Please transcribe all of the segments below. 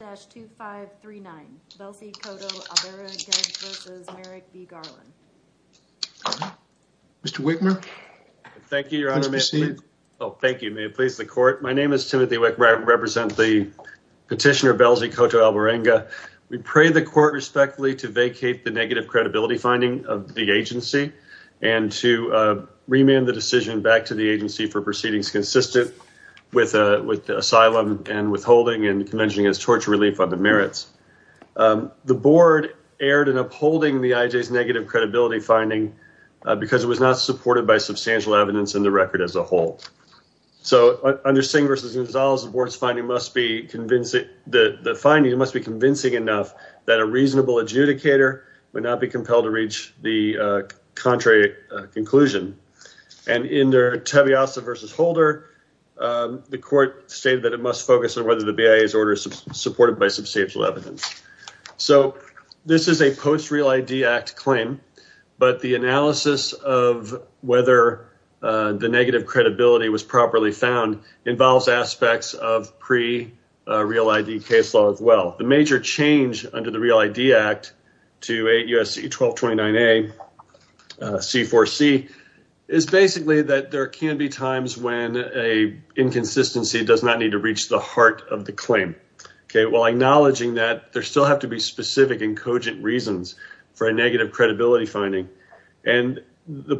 2539, Belsy Coto-Albarenga v. Merrick B. Garland. Mr. Wickmer. Thank you, Your Honor. Please proceed. Thank you. May it please the court. My name is Timothy Wickmer. I represent the petitioner, Belsy Coto-Albarenga. We pray the court respectfully to vacate the negative credibility finding of the agency and to remand the decision back to the agency for proceedings consistent with asylum and withholding and convention against torture relief on the merits. The board erred in upholding the IJ's negative credibility finding because it was not supported by substantial evidence in the record as a whole. So under Singh v. Gonzalez, the board's finding must be convincing. The finding must be convincing enough that a reasonable adjudicator would not be compelled to reach the contrary conclusion. And in their Tabeasa v. Holder, the court stated that it must focus on whether the BIA's order is supported by substantial evidence. So this is a post-Real ID Act claim, but the analysis of whether the negative credibility was properly found involves aspects of pre-Real ID case law as well. The major change under the Real ID Act to 8 U.S.C. 1229A C4C is basically that there can be times when an inconsistency does not need to reach the heart of the claim. While acknowledging that there still have to be specific and cogent reasons for a negative credibility finding. The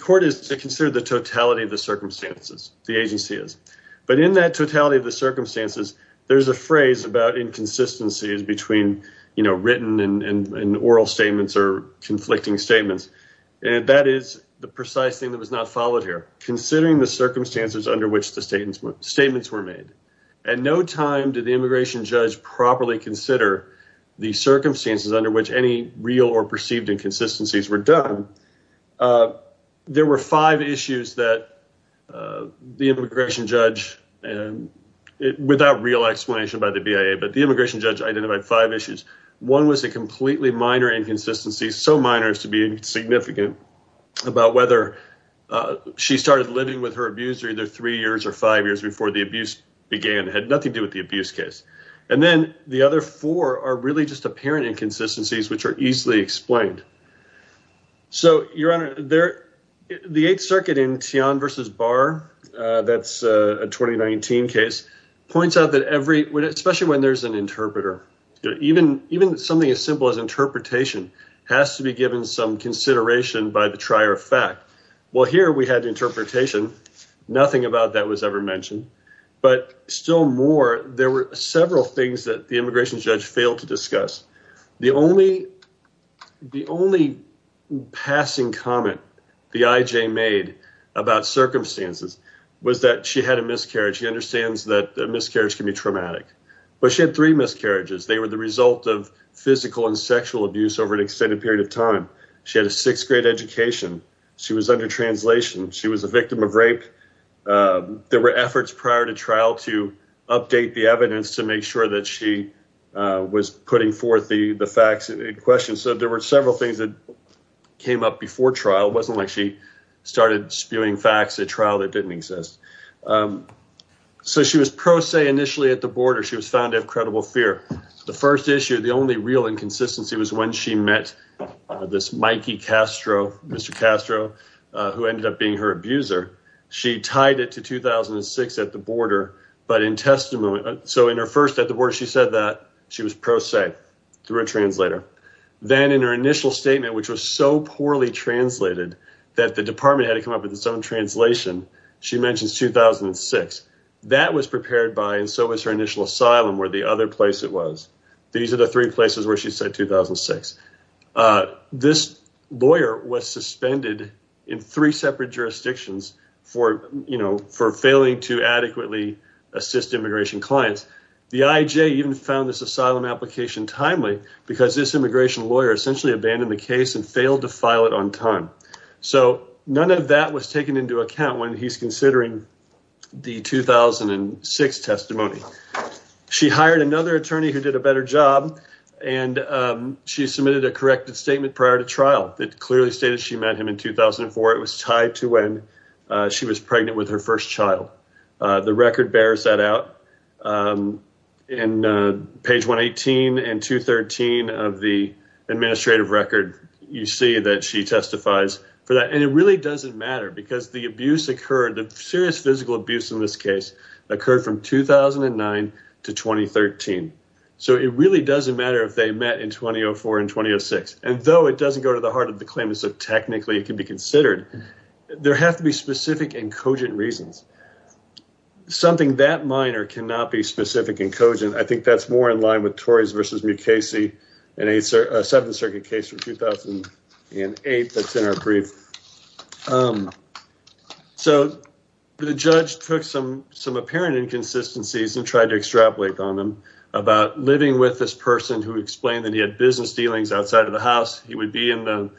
court is to consider the totality of the circumstances. The agency is. But in that totality of the circumstances, there's a phrase about inconsistencies between written and oral statements or conflicting statements. And that is the precise thing that was not followed here. Considering the circumstances under which the statements were made. At no time did the immigration judge properly consider the circumstances under which any real or perceived inconsistencies were done. There were five issues that the immigration judge and without real explanation by the BIA, but the immigration judge identified five issues. One was a completely minor inconsistency. So minor is to be significant about whether she started living with her abuser either three years or five years before the abuse began. Had nothing to do with the abuse case. And then the other four are really just apparent inconsistencies which are easily explained. So you're on there. The 8th Circuit in Tian versus Barr. That's a 2019 case. Points out that every, especially when there's an interpreter. Even something as simple as interpretation has to be given some consideration by the trier of fact. Well, here we had interpretation. Nothing about that was ever mentioned. But still more. There were several things that the immigration judge failed to discuss. The only passing comment the IJ made about circumstances was that she had a miscarriage. She understands that a miscarriage can be traumatic. But she had three miscarriages. They were the result of physical and sexual abuse over an extended period of time. She had a 6th grade education. She was a victim of rape. There were efforts prior to trial to update the evidence to make sure that she was putting forth the facts in question. So there were several things that came up before trial. It wasn't like she started spewing facts at trial that didn't exist. So she was pro se initially at the border. She was found to have credible fear. The first issue, the only real inconsistency, was when she met this Mikey Castro, Mr. Castro, who ended up being her abuser. She tied it to 2006 at the border. But in testimony, so in her first at the border, she said that she was pro se through a translator. Then in her initial statement, which was so poorly translated that the department had to come up with its own translation. She mentions 2006. That was prepared by and so was her initial asylum where the other place it was. These are the three places where she said 2006. This lawyer was suspended in three separate jurisdictions for, you know, for failing to adequately assist immigration clients. The IJ even found this asylum application timely because this immigration lawyer essentially abandoned the case and failed to file it on time. So none of that was taken into account when he's considering the 2006 testimony. She hired another attorney who did a better job and she submitted a corrected statement prior to trial. It clearly stated she met him in 2004. It was tied to when she was pregnant with her first child. The record bears that out in page 118 and 213 of the administrative record. You see that she testifies for that. And it really doesn't matter because the abuse occurred. Serious physical abuse in this case occurred from 2009 to 2013. So it really doesn't matter if they met in 2004 and 2006. And though it doesn't go to the heart of the claim is that technically it can be considered, there have to be specific and cogent reasons. Something that minor cannot be specific and cogent. I think that's more in line with Tories versus Mukasey and a 7th Circuit case from 2008. That's in our brief. So the judge took some some apparent inconsistencies and tried to extrapolate on them about living with this person who explained that he had business dealings outside of the house. He would be in the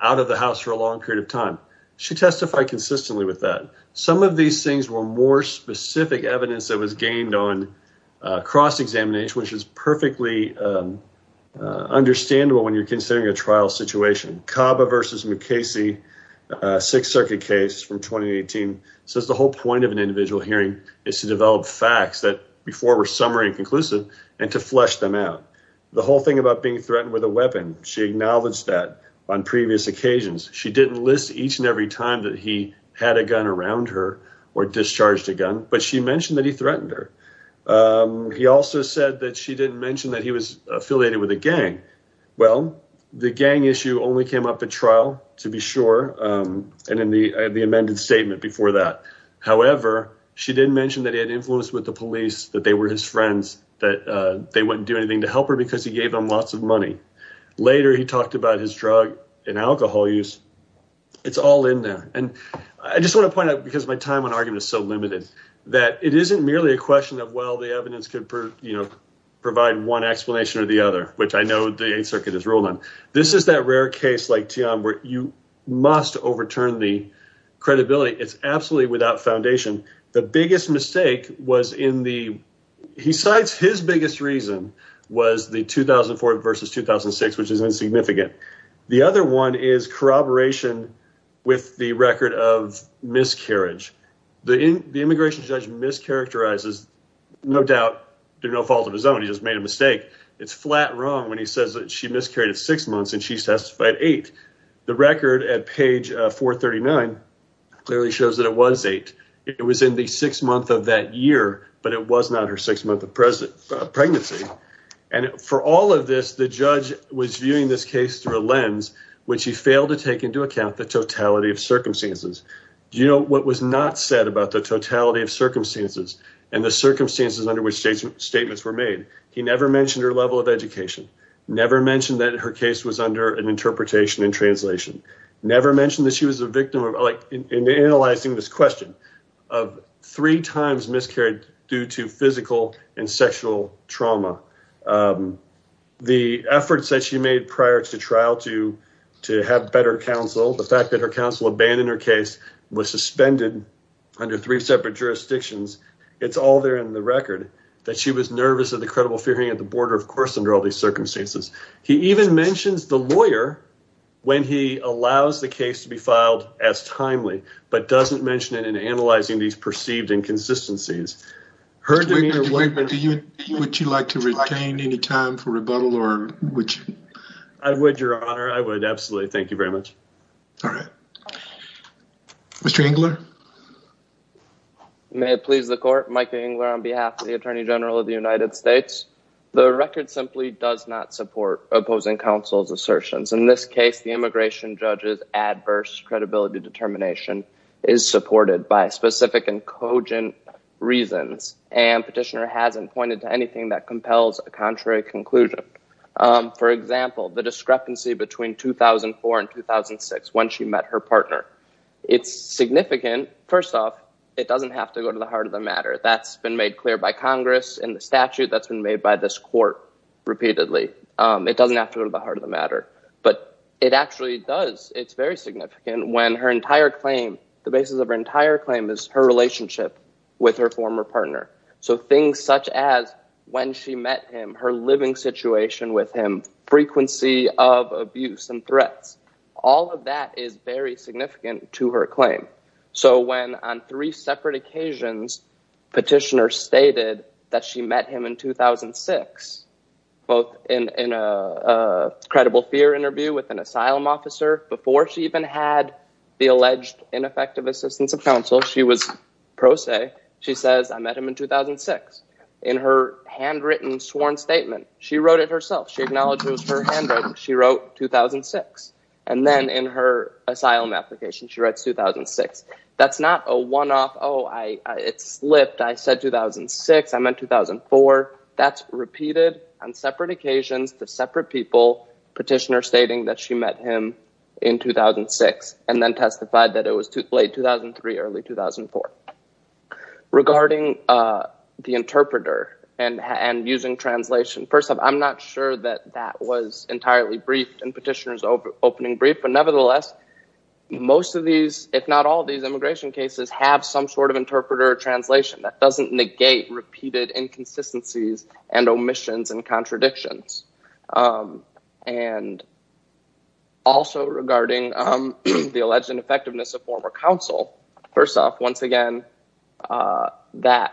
out of the house for a long period of time. She testified consistently with that. Some of these things were more specific evidence that was gained on cross-examination, which is perfectly understandable when you're considering a trial situation. Kaba versus Mukasey, 6th Circuit case from 2018, says the whole point of an individual hearing is to develop facts that before were summary and conclusive and to flesh them out. The whole thing about being threatened with a weapon, she acknowledged that on previous occasions. She didn't list each and every time that he had a gun around her or discharged a gun, but she mentioned that he threatened her. He also said that she didn't mention that he was affiliated with a gang. Well, the gang issue only came up at trial to be sure. And in the amended statement before that, however, she didn't mention that he had influence with the police, that they were his friends, that they wouldn't do anything to help her because he gave them lots of money. Later, he talked about his drug and alcohol use. It's all in there. And I just want to point out, because my time on argument is so limited, that it isn't merely a question of, well, the evidence could provide one explanation or the other, which I know the 8th Circuit has ruled on. This is that rare case like Tian where you must overturn the credibility. It's absolutely without foundation. The biggest mistake was in the, he cites his biggest reason, was the 2004 versus 2006, which is insignificant. The other one is corroboration with the record of miscarriage. The immigration judge mischaracterizes, no doubt, did no fault of his own. He just made a mistake. It's flat wrong when he says that she miscarried of six months and she testified eight. The record at page 439 clearly shows that it was eight. It was in the sixth month of that year, but it was not her sixth month of pregnancy. And for all of this, the judge was viewing this case through a lens, which he failed to take into account the totality of circumstances. Do you know what was not said about the totality of circumstances and the circumstances under which statements were made? He never mentioned her level of education. Never mentioned that her case was under an interpretation and translation. Never mentioned that she was a victim of analyzing this question of three times miscarried due to physical and sexual trauma. The efforts that she made prior to trial to have better counsel, the fact that her counsel abandoned her case, was suspended under three separate jurisdictions. It's all there in the record that she was nervous of the credible fearing at the border, of course, under all these circumstances. He even mentions the lawyer when he allows the case to be filed as timely, but doesn't mention it in analyzing these perceived inconsistencies. Mr. Wigner, would you like to retain any time for rebuttal? I would, Your Honor. I would absolutely. Thank you very much. All right. Mr. Engler? May it please the court, Michael Engler on behalf of the Attorney General of the United States. The record simply does not support opposing counsel's assertions. In this case, the immigration judge's adverse credibility determination is supported by specific and cogent reasons. And Petitioner hasn't pointed to anything that compels a contrary conclusion. For example, the discrepancy between 2004 and 2006 when she met her partner. It's significant. First off, it doesn't have to go to the heart of the matter. That's been made clear by Congress and the statute that's been made by this court repeatedly. It doesn't have to go to the heart of the matter, but it actually does. It's very significant when her entire claim, the basis of her entire claim is her relationship with her former partner. So things such as when she met him, her living situation with him, frequency of abuse and threats, all of that is very significant to her claim. So when on three separate occasions Petitioner stated that she met him in 2006, both in a credible fear interview with an asylum officer, before she even had the alleged ineffective assistance of counsel, she was pro se. She says, I met him in 2006. In her handwritten sworn statement, she wrote it herself. She acknowledges her handwriting. She wrote 2006. And then in her asylum application, she writes 2006. That's not a one-off, oh, it slipped. I said 2006. I meant 2004. That's repeated on separate occasions to separate people, Petitioner stating that she met him in 2006 and then testified that it was late 2003, early 2004. Regarding the interpreter and using translation, first off, I'm not sure that that was entirely briefed in Petitioner's opening brief. But nevertheless, most of these, if not all of these immigration cases have some sort of interpreter or translation that doesn't negate repeated inconsistencies and omissions and contradictions. And also regarding the alleged ineffectiveness of former counsel, first off, once again, that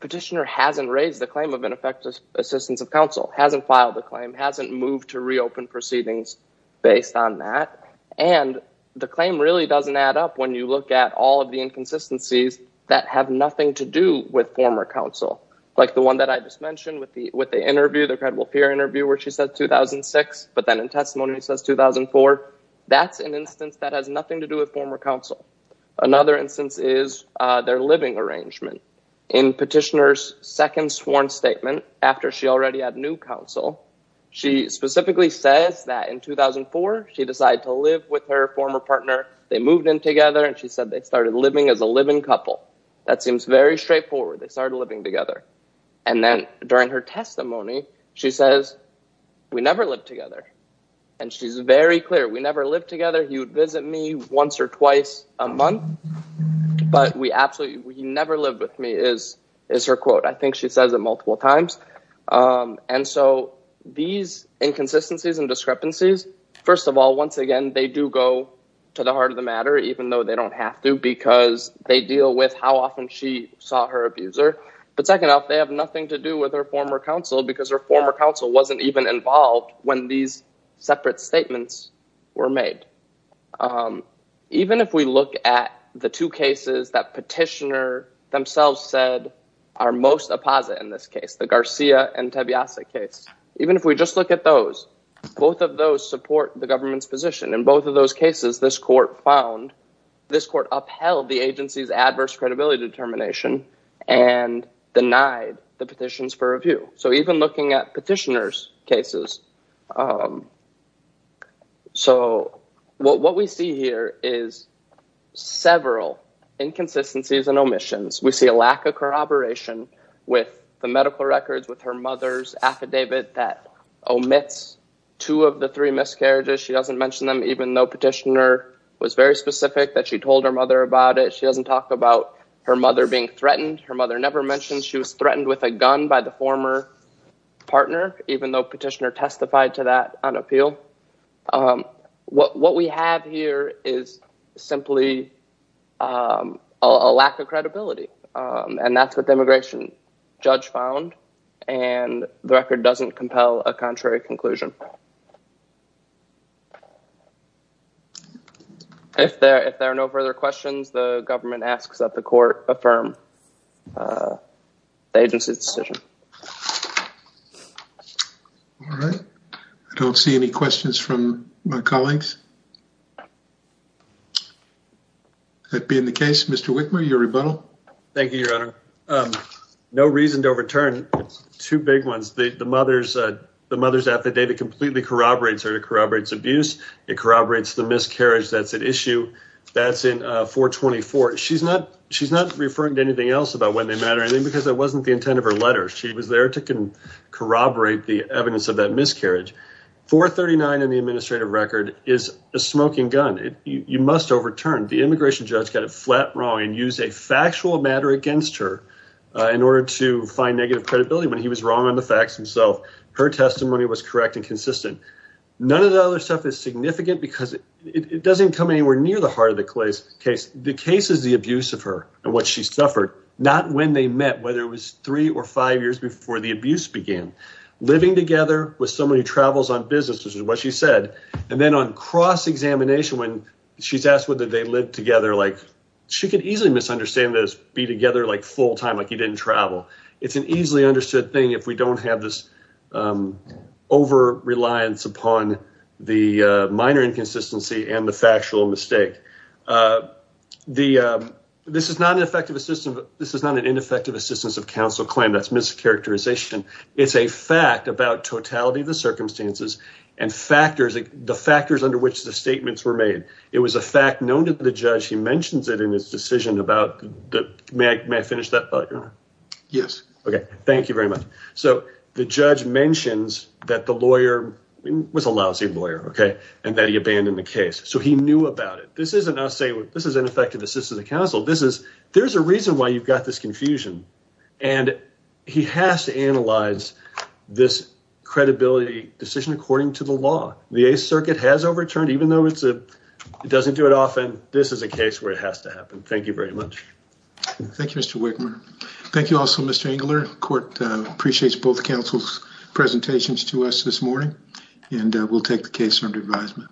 Petitioner hasn't raised the claim of ineffective assistance of counsel, hasn't filed the claim, hasn't moved to reopen proceedings based on that. And the claim really doesn't add up when you look at all of the inconsistencies that have nothing to do with former counsel. Like the one that I just mentioned with the interview, the credible peer interview where she said 2006, but then in testimony says 2004. That's an instance that has nothing to do with former counsel. Another instance is their living arrangement. In Petitioner's second sworn statement, after she already had new counsel, she specifically says that in 2004, she decided to live with her former partner. They moved in together and she said they started living as a living couple. That seems very straightforward. They started living together. And then during her testimony, she says, we never lived together. And she's very clear. We never lived together. He would visit me once or twice a month, but we absolutely never lived with me is her quote. I think she says it multiple times. And so these inconsistencies and discrepancies, first of all, once again, they do go to the heart of the matter, even though they don't have to, because they deal with how often she saw her abuser. But second off, they have nothing to do with her former counsel because her former counsel wasn't even involved when these separate statements were made. Even if we look at the two cases that Petitioner themselves said are most apposite in this case, the Garcia and Tebiasa case, even if we just look at those, both of those support the government's position. In both of those cases, this court found, this court upheld the agency's adverse credibility determination and denied the petitions for review. So even looking at Petitioner's cases, so what we see here is several inconsistencies and omissions. We see a lack of corroboration with the medical records, with her mother's affidavit that omits two of the three miscarriages. She doesn't mention them, even though Petitioner was very specific that she told her mother about it. She doesn't talk about her mother being threatened. Her mother never mentioned she was threatened with a gun by the former partner, even though Petitioner testified to that on appeal. What we have here is simply a lack of credibility, and that's what the immigration judge found, and the record doesn't compel a contrary conclusion. If there are no further questions, the government asks that the court affirm the agency's decision. All right. I don't see any questions from my colleagues. That being the case, Mr. Wickmer, your rebuttal. Thank you, Your Honor. No reason to overturn two big ones. The mother's affidavit completely corroborates her, corroborates abuse, it corroborates the miscarriage that's at issue. That's in 424. She's not referring to anything else about when they met or anything because that wasn't the intent of her letter. She was there to corroborate the evidence of that miscarriage. 439 in the administrative record is a smoking gun. You must overturn. The immigration judge got it flat wrong and used a factual matter against her in order to find negative credibility when he was wrong on the facts himself. Her testimony was correct and consistent. None of the other stuff is significant because it doesn't come anywhere near the heart of the case. The case is the abuse of her and what she suffered, not when they met, whether it was three or five years before the abuse began. Living together with someone who travels on business, which is what she said. And then on cross-examination, when she's asked whether they lived together, like she could easily misunderstand this, be together like full-time, like he didn't travel. It's an easily understood thing if we don't have this over-reliance upon the minor inconsistency and the factual mistake. This is not an ineffective assistance of counsel claim. That's mischaracterization. This is a fact about totality of the circumstances and the factors under which the statements were made. It was a fact known to the judge. He mentions it in his decision. The judge mentions that the lawyer was a lousy lawyer and that he abandoned the case. So he knew about it. This is an ineffective assistance of counsel. There's a reason why you've got this confusion. And he has to analyze this credibility decision according to the law. The Eighth Circuit has overturned, even though it doesn't do it often. This is a case where it has to happen. Thank you very much. Thank you, Mr. Wigmer. Thank you also, Mr. Engler. Court appreciates both counsel's presentations to us this morning, and we'll take the case under advisement.